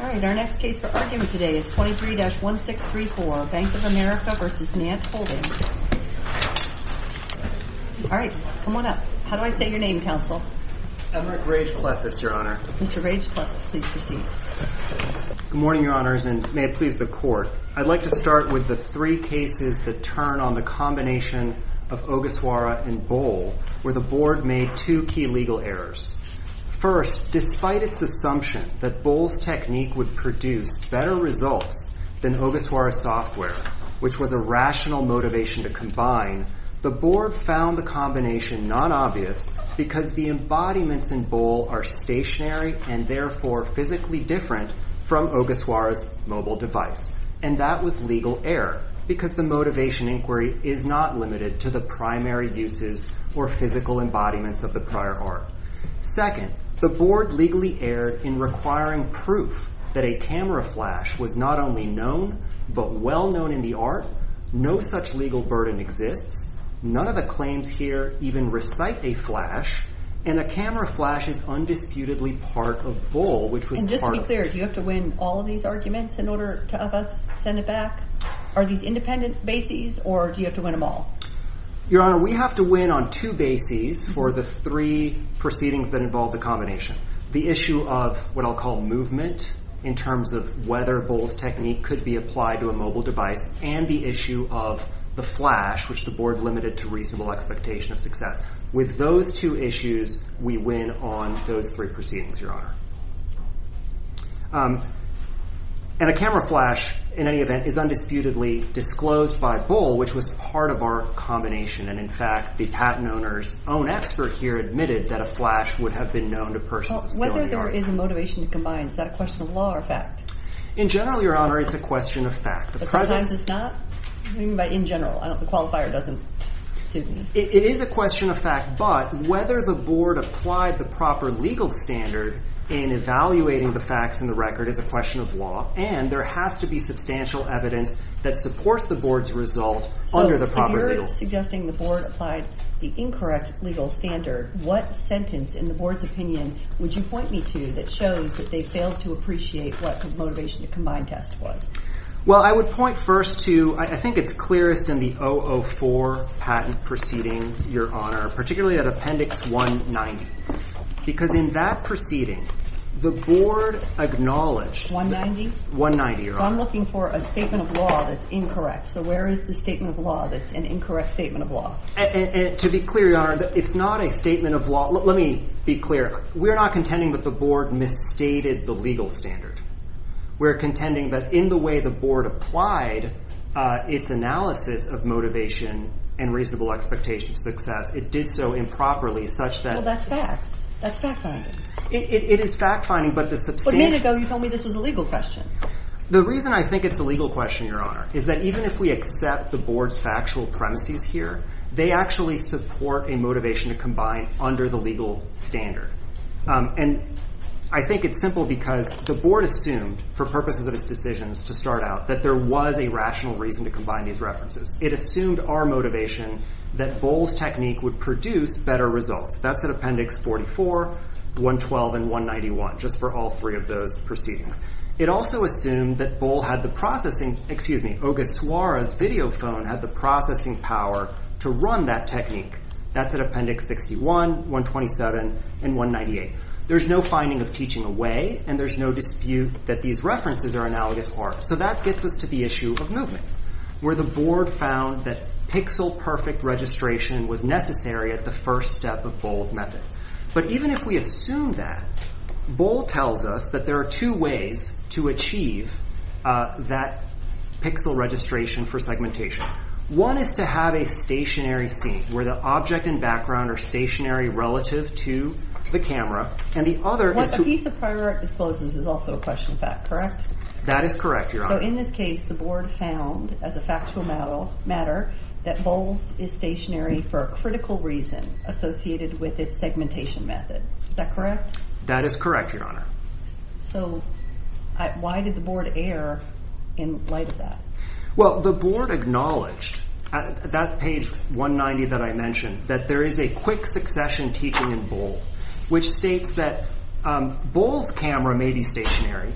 All right, our next case for argument today is 23-1634, Bank of America v. Nant Holdings. All right, come on up. How do I say your name, Counsel? Emerick Rage-Plessis, Your Honor. Mr. Rage-Plessis, please proceed. Good morning, Your Honors, and may it please the Court. I'd like to start with the three cases that turn on the combination of Ogasawara and Bohl, where the Board made two key legal errors. First, despite its assumption that Bohl's technique would produce better results than Ogasawara's software, which was a rational motivation to combine, the Board found the combination non-obvious because the embodiments in Bohl are stationary and therefore physically different from Ogasawara's mobile device. And that was legal error because the motivation inquiry is not limited to the primary uses or physical embodiments of the prior art. Second, the Board legally erred in requiring proof that a camera flash was not only known but well-known in the art, no such legal burden exists, none of the claims here even recite a flash, and a camera flash is undisputedly part of Bohl, which was part of Bohl. And just to be clear, do you have to win all of these arguments in order to have us send it back? Are these independent bases, or do you have to win them all? Your Honor, we have to win on two bases for the three proceedings that involve the combination. The issue of what I'll call movement in terms of whether Bohl's technique could be applied to a mobile device and the issue of the flash, which the Board limited to reasonable expectation of success. With those two issues, we win on those three proceedings, Your Honor. And a camera flash, in any event, is undisputedly disclosed by Bohl, which was part of our combination. And, in fact, the patent owner's own expert here admitted that a flash would have been known to persons of skill in the art. Well, whether there is a motivation to combine, is that a question of law or fact? In general, Your Honor, it's a question of fact. But sometimes it's not? I mean in general. The qualifier doesn't, excuse me. It is a question of fact, but whether the Board applied the proper legal standard in evaluating the facts in the record is a question of law. And there has to be substantial evidence that supports the Board's result under the proper legal standard. So if you're suggesting the Board applied the incorrect legal standard, what sentence in the Board's opinion would you point me to that shows that they failed to appreciate what the motivation to combine test was? Well, I would point first to, I think it's clearest in the 004 patent proceeding, Your Honor, particularly at Appendix 190. Because in that proceeding, the Board acknowledged… 190, Your Honor. So I'm looking for a statement of law that's incorrect. So where is the statement of law that's an incorrect statement of law? To be clear, Your Honor, it's not a statement of law. Let me be clear. We're not contending that the Board misstated the legal standard. We're contending that in the way the Board applied its analysis of motivation and reasonable expectation of success, it did so improperly such that… Well, that's facts. That's fact-finding. It is fact-finding, but the substantial… But a minute ago, you told me this was a legal question. The reason I think it's a legal question, Your Honor, is that even if we accept the Board's factual premises here, they actually support a motivation to combine under the legal standard. And I think it's simple because the Board assumed, for purposes of its decisions to start out, that there was a rational reason to combine these references. It assumed our motivation that Bohl's technique would produce better results. That's at Appendix 44, 112, and 191, just for all three of those proceedings. It also assumed that Bohl had the processing… Excuse me, Ogasawara's video phone had the processing power to run that technique. That's at Appendix 61, 127, and 198. There's no finding of teaching away, and there's no dispute that these references are analogous parts. So that gets us to the issue of movement, where the Board found that pixel-perfect registration was necessary at the first step of Bohl's method. But even if we assume that, Bohl tells us that there are two ways to achieve that pixel registration for segmentation. One is to have a stationary scene, where the object and background are stationary relative to the camera. And the other is to… A piece of prior disclosures is also a question of fact, correct? That is correct, Your Honor. So in this case, the Board found, as a factual matter, that Bohl's is stationary for a critical reason associated with its segmentation method. Is that correct? That is correct, Your Honor. So why did the Board err in light of that? Well, the Board acknowledged, at that page 190 that I mentioned, that there is a quick succession teaching in Bohl, which states that Bohl's camera may be stationary,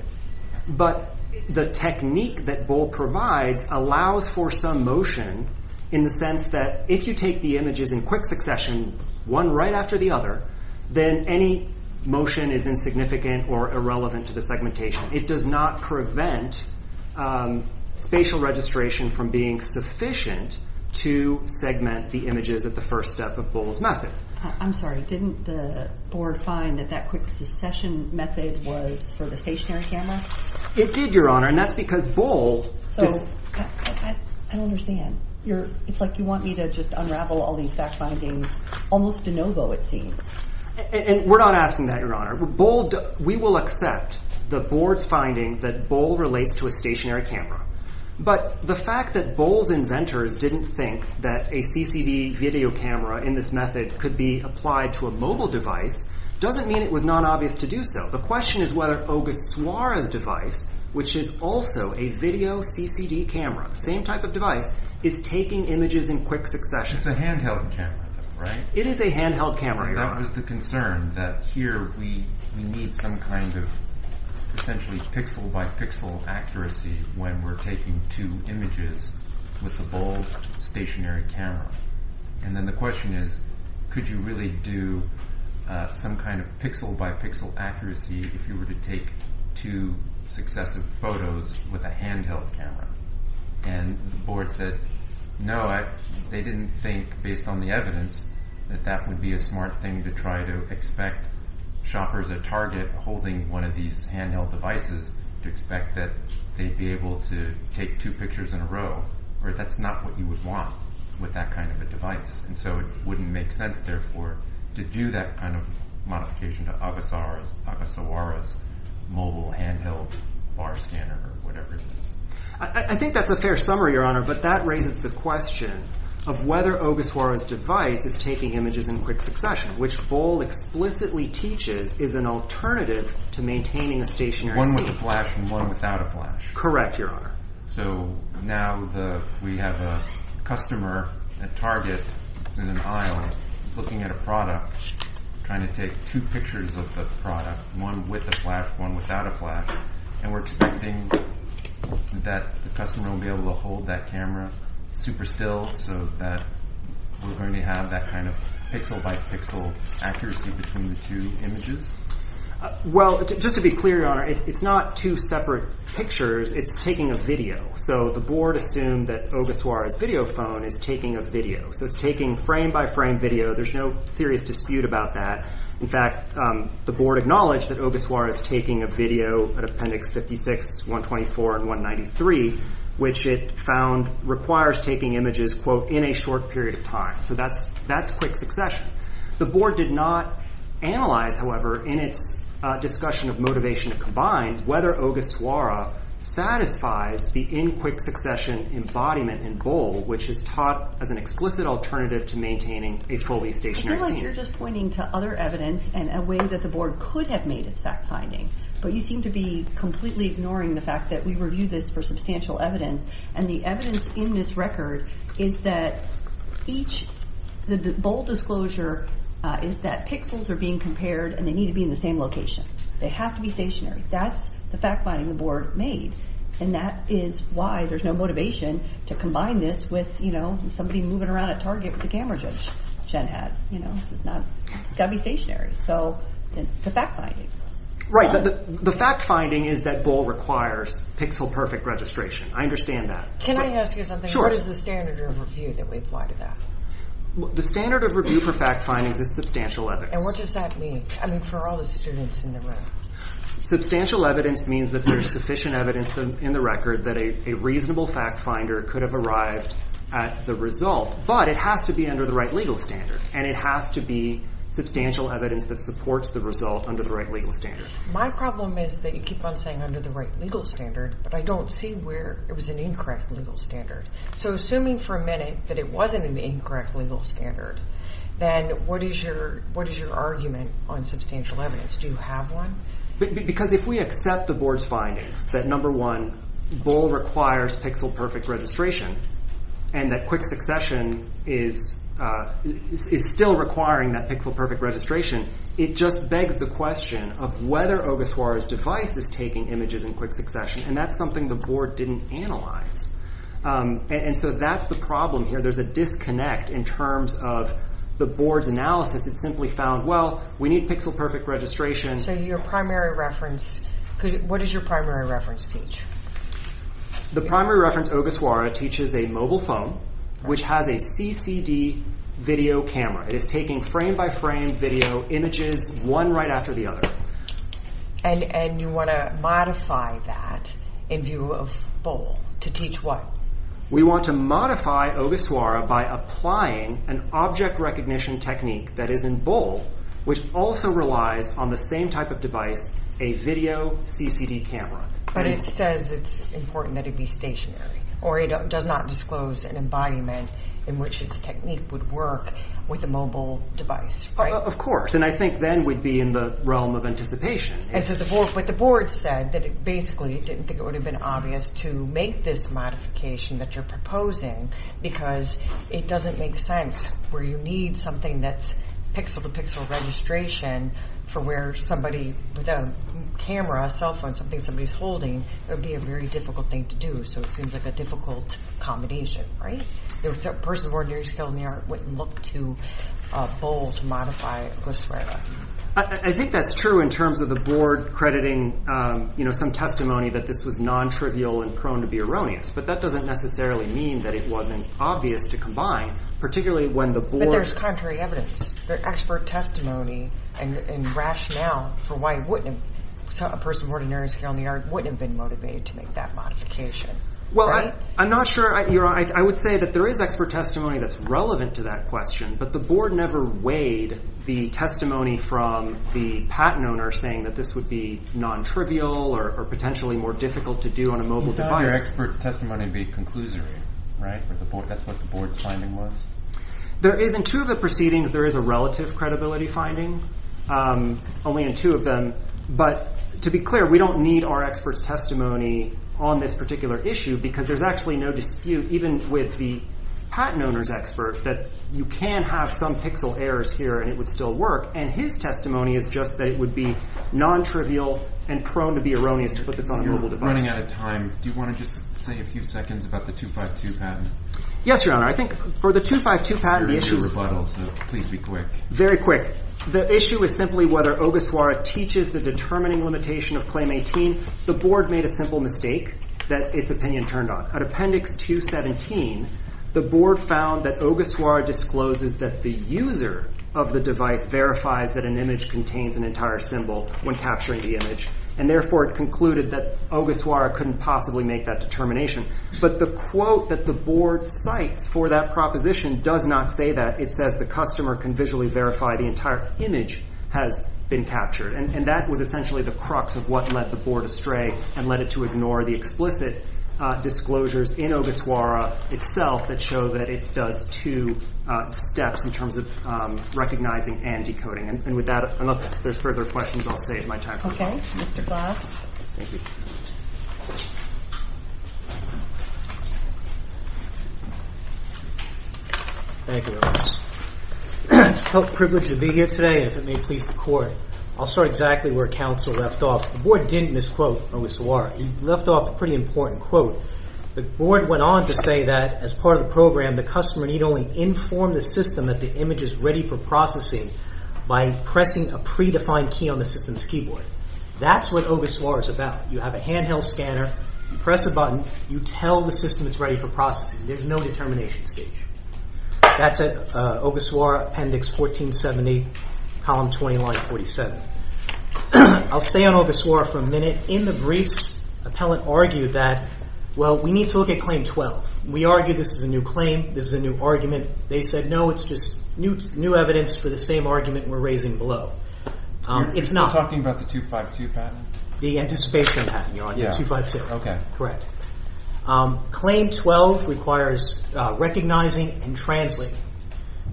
but the technique that Bohl provides allows for some motion, in the sense that if you take the images in quick succession, one right after the other, then any motion is insignificant or irrelevant to the segmentation. It does not prevent spatial registration from being sufficient to segment the images at the first step of Bohl's method. I'm sorry. Didn't the Board find that that quick succession method was for the stationary camera? It did, Your Honor, and that's because Bohl… So I don't understand. It's like you want me to just unravel all these fact findings almost de novo, it seems. We're not asking that, Your Honor. We will accept the Board's finding that Bohl relates to a stationary camera, but the fact that Bohl's inventors didn't think that a CCD video camera in this method could be applied to a mobile device doesn't mean it was non-obvious to do so. The question is whether Ogasawara's device, which is also a video CCD camera, the same type of device, is taking images in quick succession. It's a handheld camera, though, right? It is a handheld camera, Your Honor. That was the concern, that here we need some kind of essentially pixel-by-pixel accuracy when we're taking two images with the Bohl's stationary camera. And then the question is, could you really do some kind of pixel-by-pixel accuracy if you were to take two successive photos with a handheld camera? And the Board said, no, they didn't think, based on the evidence, that that would be a smart thing to try to expect shoppers at Target holding one of these handheld devices to expect that they'd be able to take two pictures in a row. That's not what you would want with that kind of a device. And so it wouldn't make sense, therefore, to do that kind of modification to Ogasawara's mobile handheld bar scanner or whatever it is. I think that's a fair summary, Your Honor, but that raises the question of whether Ogasawara's device is taking images in quick succession, which Bohl explicitly teaches is an alternative to maintaining a stationary scene. One with a flash and one without a flash. Correct, Your Honor. So now we have a customer at Target that's in an aisle looking at a product, trying to take two pictures of the product, one with a flash, one without a flash, and we're expecting that the customer will be able to hold that camera super still so that we're going to have that kind of pixel-by-pixel accuracy between the two images? Well, just to be clear, Your Honor, it's not two separate pictures. It's taking a video. So the Board assumed that Ogasawara's video phone is taking a video. So it's taking frame-by-frame video. There's no serious dispute about that. In fact, the Board acknowledged that Ogasawara is taking a video at Appendix 56, 124, and 193, which it found requires taking images, quote, in a short period of time. So that's quick succession. The Board did not analyze, however, in its discussion of motivation combined, whether Ogasawara satisfies the in quick succession embodiment in Bohl, which is taught as an explicit alternative to maintaining a fully stationary scene. I feel like you're just pointing to other evidence and a way that the Board could have made its fact-finding, but you seem to be completely ignoring the fact that we review this for substantial evidence, and the evidence in this record is that each Bohl disclosure is that pixels are being compared and they need to be in the same location. They have to be stationary. That's the fact-finding the Board made, and that is why there's no motivation to combine this with somebody moving around at Target with a camera gen hat. It's got to be stationary. So the fact-finding. Right. The fact-finding is that Bohl requires pixel-perfect registration. I understand that. Can I ask you something? Sure. What is the standard of review that we apply to that? The standard of review for fact-findings is substantial evidence. And what does that mean? I mean, for all the students in the room. Substantial evidence means that there's sufficient evidence in the record that a reasonable fact-finder could have arrived at the result, but it has to be under the right legal standard, and it has to be substantial evidence that supports the result under the right legal standard. My problem is that you keep on saying under the right legal standard, but I don't see where it was an incorrect legal standard. So assuming for a minute that it wasn't an incorrect legal standard, then what is your argument on substantial evidence? Do you have one? Because if we accept the board's findings that, number one, Bohl requires pixel-perfect registration, and that quick succession is still requiring that pixel-perfect registration, it just begs the question of whether Ogasawara's device is taking images in quick succession, and that's something the board didn't analyze. And so that's the problem here. There's a disconnect in terms of the board's analysis that simply found, well, we need pixel-perfect registration. So your primary reference, what does your primary reference teach? The primary reference Ogasawara teaches a mobile phone which has a CCD video camera. It is taking frame-by-frame video images one right after the other. And you want to modify that in view of Bohl to teach what? We want to modify Ogasawara by applying an object recognition technique that is in Bohl, which also relies on the same type of device, a video CCD camera. But it says it's important that it be stationary, or it does not disclose an embodiment in which its technique would work with a mobile device, right? Of course. And I think then we'd be in the realm of anticipation. And so what the board said, that basically it didn't think it would have been obvious to make this modification that you're proposing because it doesn't make sense where you need something that's pixel-to-pixel registration for where somebody with a camera, a cell phone, something somebody's holding, it would be a very difficult thing to do. So it seems like a difficult combination, right? A person of ordinary skill in the art wouldn't look to Bohl to modify Ogasawara. I think that's true in terms of the board crediting, you know, some testimony that this was non-trivial and prone to be erroneous. But that doesn't necessarily mean that it wasn't obvious to combine, particularly when the board- But there's contrary evidence. There's expert testimony and rationale for why a person of ordinary skill in the art wouldn't have been motivated to make that modification. Well, I'm not sure. I would say that there is expert testimony that's relevant to that question, but the board never weighed the testimony from the patent owner saying that this would be non-trivial or potentially more difficult to do on a mobile device. You found your expert's testimony to be conclusory, right? That's what the board's finding was? There is. In two of the proceedings, there is a relative credibility finding, only in two of them. But to be clear, we don't need our expert's testimony on this particular issue because there's actually no dispute, even with the patent owner's expert, that you can have some pixel errors here and it would still work, and his testimony is just that it would be non-trivial and prone to be erroneous to put this on a mobile device. You're running out of time. Do you want to just say a few seconds about the 252 patent? Yes, Your Honor. I think for the 252 patent, the issue is- You're in your rebuttal, so please be quick. Very quick. The issue is simply whether Ogoswara teaches the determining limitation of Claim 18. The board made a simple mistake that its opinion turned on. At Appendix 217, the board found that Ogoswara discloses that the user of the device verifies that an image contains an entire symbol when capturing the image, and therefore it concluded that Ogoswara couldn't possibly make that determination. But the quote that the board cites for that proposition does not say that. It says the customer can visually verify the entire image has been captured, and that was essentially the crux of what led the board astray and led it to ignore the explicit disclosures in Ogoswara itself that show that it does two steps in terms of recognizing and decoding. And with that, unless there's further questions, I'll save my time. Okay. Mr. Glass. Thank you. Thank you, Your Honor. It's a privilege to be here today, and if it may please the Court, I'll start exactly where counsel left off. The board didn't misquote Ogoswara. He left off a pretty important quote. The board went on to say that as part of the program, the customer need only inform the system that the image is ready for processing by pressing a predefined key on the system's keyboard. That's what Ogoswara is about. You have a handheld scanner. You press a button. You tell the system it's ready for processing. There's no determination stage. That's it. Ogoswara Appendix 1470, Column 2947. I'll stay on Ogoswara for a minute. In the briefs, appellant argued that, well, we need to look at Claim 12. We argue this is a new claim. This is a new argument. They said, no, it's just new evidence for the same argument we're raising below. It's not. You're talking about the 252 patent? The anticipation patent, Your Honor, 252. Okay. Correct. Claim 12 requires recognizing and translating.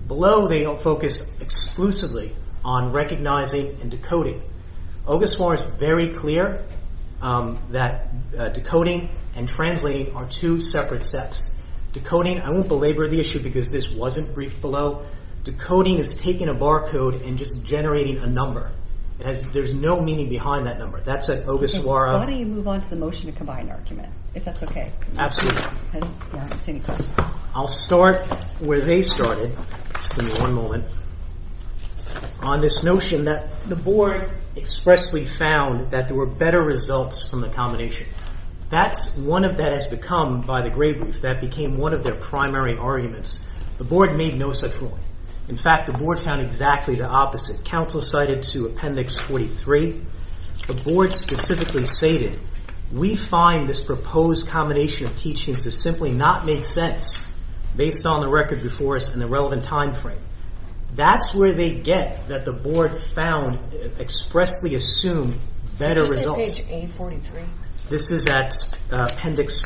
Below, they focus exclusively on recognizing and decoding. Ogoswara is very clear that decoding and translating are two separate steps. Decoding, I won't belabor the issue because this wasn't briefed below. Decoding is taking a barcode and just generating a number. There's no meaning behind that number. That's at Ogoswara. Why don't you move on to the motion to combine argument, if that's okay? Absolutely. I'll continue. I'll start where they started. Just give me one moment. On this notion that the board expressly found that there were better results from the combination. One of that has become, by the grave roof, that became one of their primary arguments. The board made no such ruling. In fact, the board found exactly the opposite. The council cited to Appendix 43. The board specifically stated, we find this proposed combination of teachings to simply not make sense, based on the record before us and the relevant time frame. That's where they get that the board found expressly assumed better results. Is this at page A43? This is at Appendix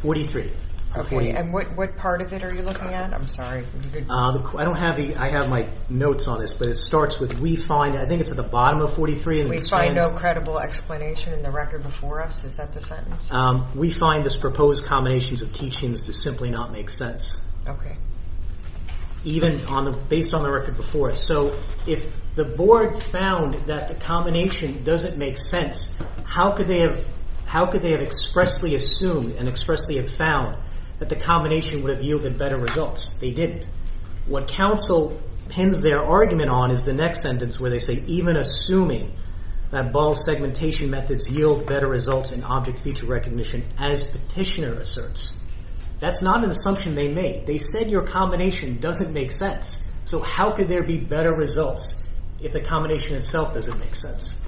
43. Okay. And what part of it are you looking at? I'm sorry. I have my notes on this, but it starts with, we find, I think it's at the bottom of 43. We find no credible explanation in the record before us. Is that the sentence? We find this proposed combination of teachings to simply not make sense. Okay. Even based on the record before us. If the board found that the combination doesn't make sense, how could they have expressly assumed and expressly have found that the combination would have yielded better results? They didn't. What council pins their argument on is the next sentence where they say, even assuming that ball segmentation methods yield better results in object feature recognition as petitioner asserts. That's not an assumption they made. They said your combination doesn't make sense. So how could there be better results if the combination itself doesn't make sense?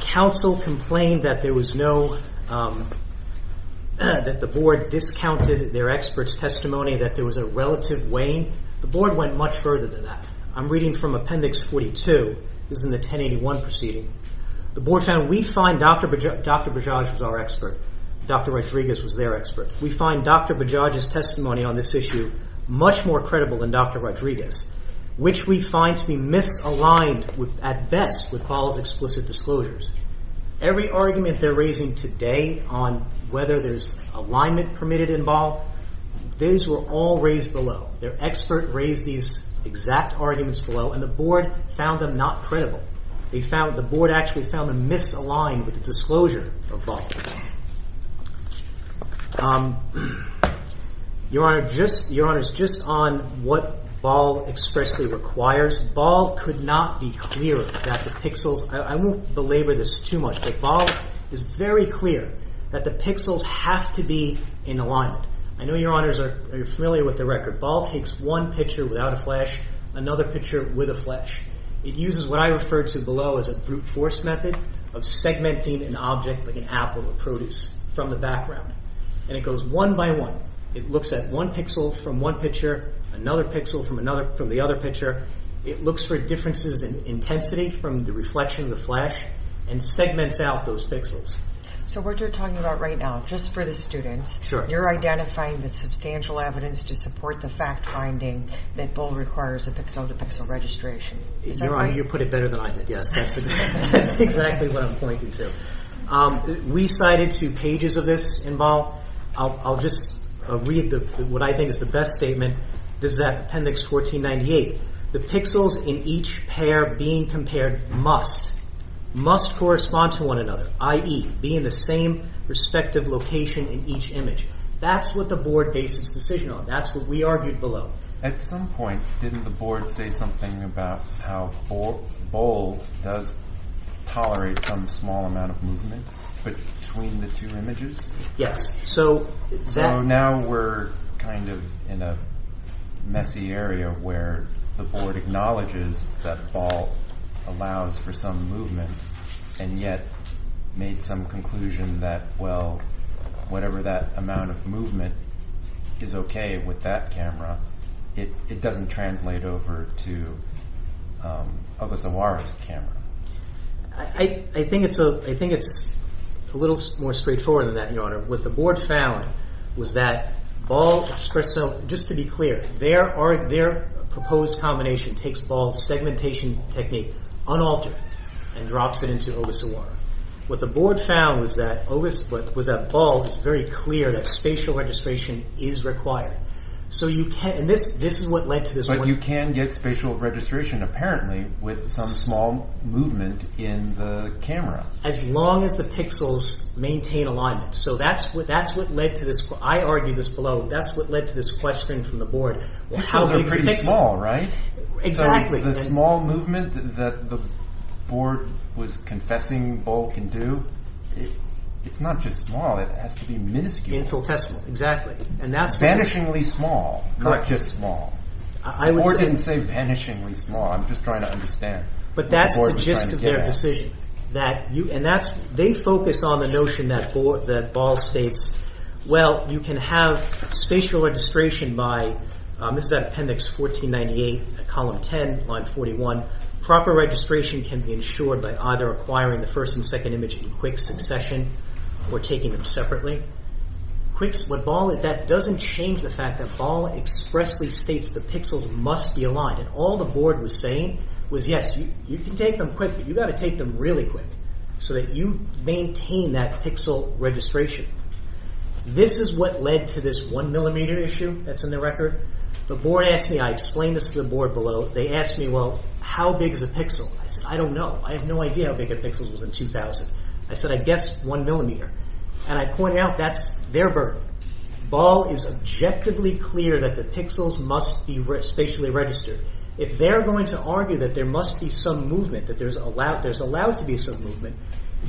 Council complained that there was no, that the board discounted their expert's testimony, that there was a relative wane. The board went much further than that. I'm reading from Appendix 42. This is in the 1081 proceeding. The board found we find Dr. Bajaj was our expert. Dr. Rodriguez was their expert. We find Dr. Bajaj's testimony on this issue much more credible than Dr. Rodriguez, which we find to be misaligned at best with Paul's explicit disclosures. Every argument they're raising today on whether there's alignment permitted in ball, these were all raised below. Their expert raised these exact arguments below, and the board found them not credible. The board actually found them misaligned with the disclosure of ball. Your Honor, just on what ball expressly requires, ball could not be clear that the pixels, I won't belabor this too much, but ball is very clear that the pixels have to be in alignment. I know, Your Honors, you're familiar with the record. Ball takes one picture without a flash, another picture with a flash. It uses what I refer to below as a brute force method of segmenting an object, like an apple or produce, from the background, and it goes one by one. It looks at one pixel from one picture, another pixel from the other picture. It looks for differences in intensity from the reflection of the flash and segments out those pixels. So what you're talking about right now, just for the students, you're identifying the substantial evidence to support the fact finding that ball requires a pixel-to-pixel registration. Is that right? Your Honor, you put it better than I did, yes. That's exactly what I'm pointing to. We cited two pages of this in ball. I'll just read what I think is the best statement. This is Appendix 1498. The pixels in each pair being compared must, must correspond to one another, i.e., be in the same respective location in each image. That's what the board based its decision on. That's what we argued below. At some point, didn't the board say something about how ball does tolerate some small amount of movement between the two images? Yes. So now we're kind of in a messy area where the board acknowledges that ball allows for some movement and yet made some conclusion that, well, whatever that amount of movement is okay with that camera, it doesn't translate over to Augusto Juarez's camera. I think it's a little more straightforward than that, Your Honor. What the board found was that ball expressójust to be clear, their proposed combination takes ball's segmentation technique, unaltered, and drops it into Augusto Juarez. What the board found was that ball is very clear that spatial registration is required. So you canóand this is what led to thisó But you can get spatial registration, apparently, with some small movement in the camera. As long as the pixels maintain alignment. So that's what led to thisóI argued this belowó That's what led to this question from the board. The pixels are pretty small, right? Exactly. So the small movement that the board was confessing ball can do, it's not just small. It has to be minuscule. Infiltestible, exactly. Vanishingly small, not just small. The board didn't say vanishingly small. I'm just trying to understand what the board was trying to get at. But that's the gist of their decision. They focus on the notion that ball states, Well, you can have spatial registration byó This is appendix 1498, column 10, line 41. Proper registration can be ensured by either acquiring the first and second image in quick succession or taking them separately. That doesn't change the fact that ball expressly states the pixels must be aligned. All the board was saying was, yes, you can take them quick, but you've got to take them really quick so that you maintain that pixel registration. This is what led to this one millimeter issue that's in the record. The board asked meóI explained this to the board belowó they asked me, well, how big is a pixel? I said, I don't know. I have no idea how big a pixel was in 2000. I said, I guess one millimeter. And I pointed out that's their burden. Ball is objectively clear that the pixels must be spatially registered. If they're going to argue that there must be some movement, that there's allowed to be some movement,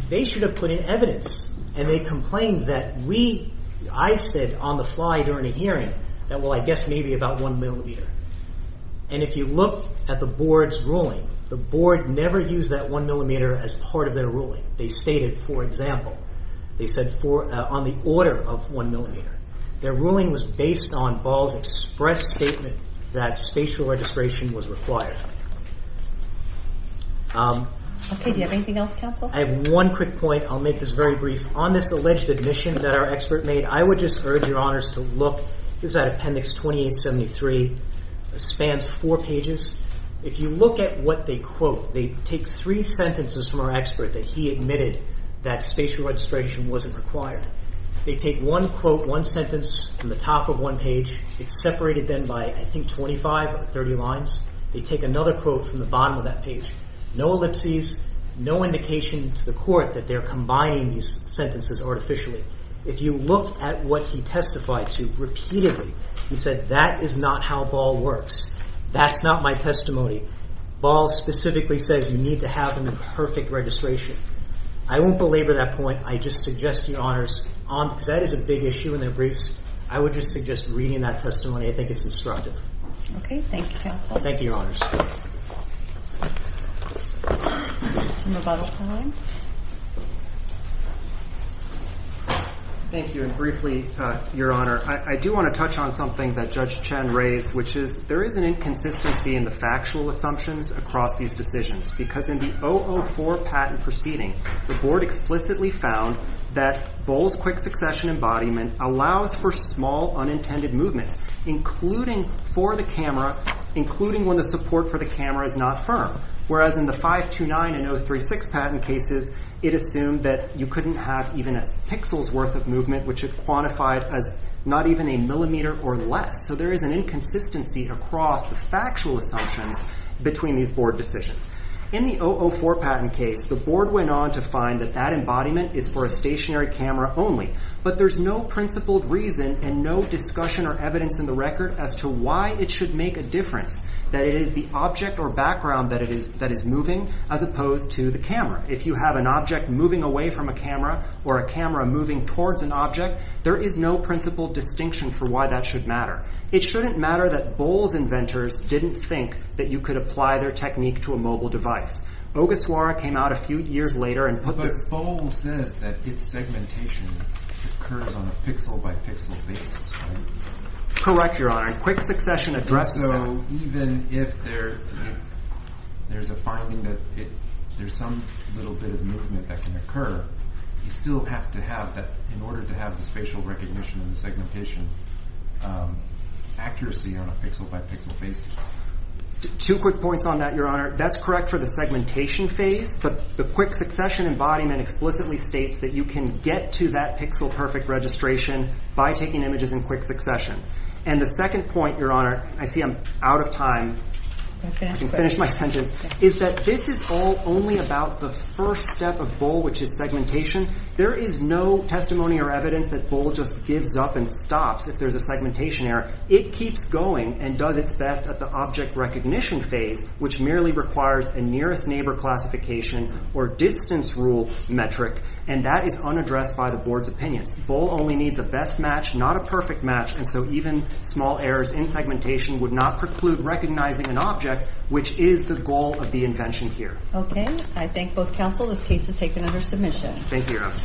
they should have put in evidence. And they complained that weóI said on the fly during a hearingó that, well, I guess maybe about one millimeter. And if you look at the board's ruling, the board never used that one millimeter as part of their ruling. They stated, for example, they said on the order of one millimeter. Their ruling was based on Ball's express statement that spatial registration was required. Okay. Do you have anything else, counsel? I have one quick point. I'll make this very brief. On this alleged admission that our expert made, I would just urge your honors to lookóthis is at Appendix 2873. It spans four pages. If you look at what they quote, they take three sentences from our expert that he admitted that spatial registration wasn't required. They take one quote, one sentence from the top of one page. It's separated then by, I think, 25 or 30 lines. They take another quote from the bottom of that page. No ellipses, no indication to the court that they're combining these sentences artificially. If you look at what he testified to repeatedly, he said that is not how Ball works. That's not my testimony. Ball specifically says you need to have them in perfect registration. I won't belabor that point. I just suggest your honorsóbecause that is a big issue in their briefsó I would just suggest reading that testimony. I think it's instructive. Okay. Thank you, counsel. Thank you, your honors. Thank you. And briefly, your honor, I do want to touch on something that Judge Chen raised, which is there is an inconsistency in the factual assumptions across these decisions because in the 004 patent proceeding, the board explicitly found that Ball's quick succession embodiment allows for small unintended movement, including for the camera, including when the support for the camera is not firm, whereas in the 529 and 036 patent cases, it assumed that you couldn't have even a pixel's worth of movement, which it quantified as not even a millimeter or less. So there is an inconsistency across the factual assumptions between these board decisions. In the 004 patent case, the board went on to find that that embodiment is for a stationary camera only, but there's no principled reason and no discussion or evidence in the record as to why it should make a difference, that it is the object or background that is moving as opposed to the camera. If you have an object moving away from a camera or a camera moving towards an object, there is no principled distinction for why that should matter. It shouldn't matter that Ball's inventors didn't think that you could apply their technique to a mobile device. Ogasawara came out a few years later and put this— But Ball says that its segmentation occurs on a pixel-by-pixel basis, right? Correct, Your Honor, and quick succession addresses that. So even if there's a finding that there's some little bit of movement that can occur, you still have to have, in order to have the spatial recognition and the segmentation, accuracy on a pixel-by-pixel basis? Two quick points on that, Your Honor. That's correct for the segmentation phase, but the quick succession embodiment explicitly states that you can get to that pixel-perfect registration by taking images in quick succession. And the second point, Your Honor—I see I'm out of time. I can finish my sentence— is that this is all only about the first step of Ball, which is segmentation. There is no testimony or evidence that Ball just gives up and stops if there's a segmentation error. It keeps going and does its best at the object recognition phase, which merely requires a nearest neighbor classification or distance rule metric, and that is unaddressed by the Board's opinions. Ball only needs a best match, not a perfect match, and so even small errors in segmentation would not preclude recognizing an object, which is the goal of the invention here. Okay. I thank both counsel. This case is taken under submission. Thank you, Your Honor.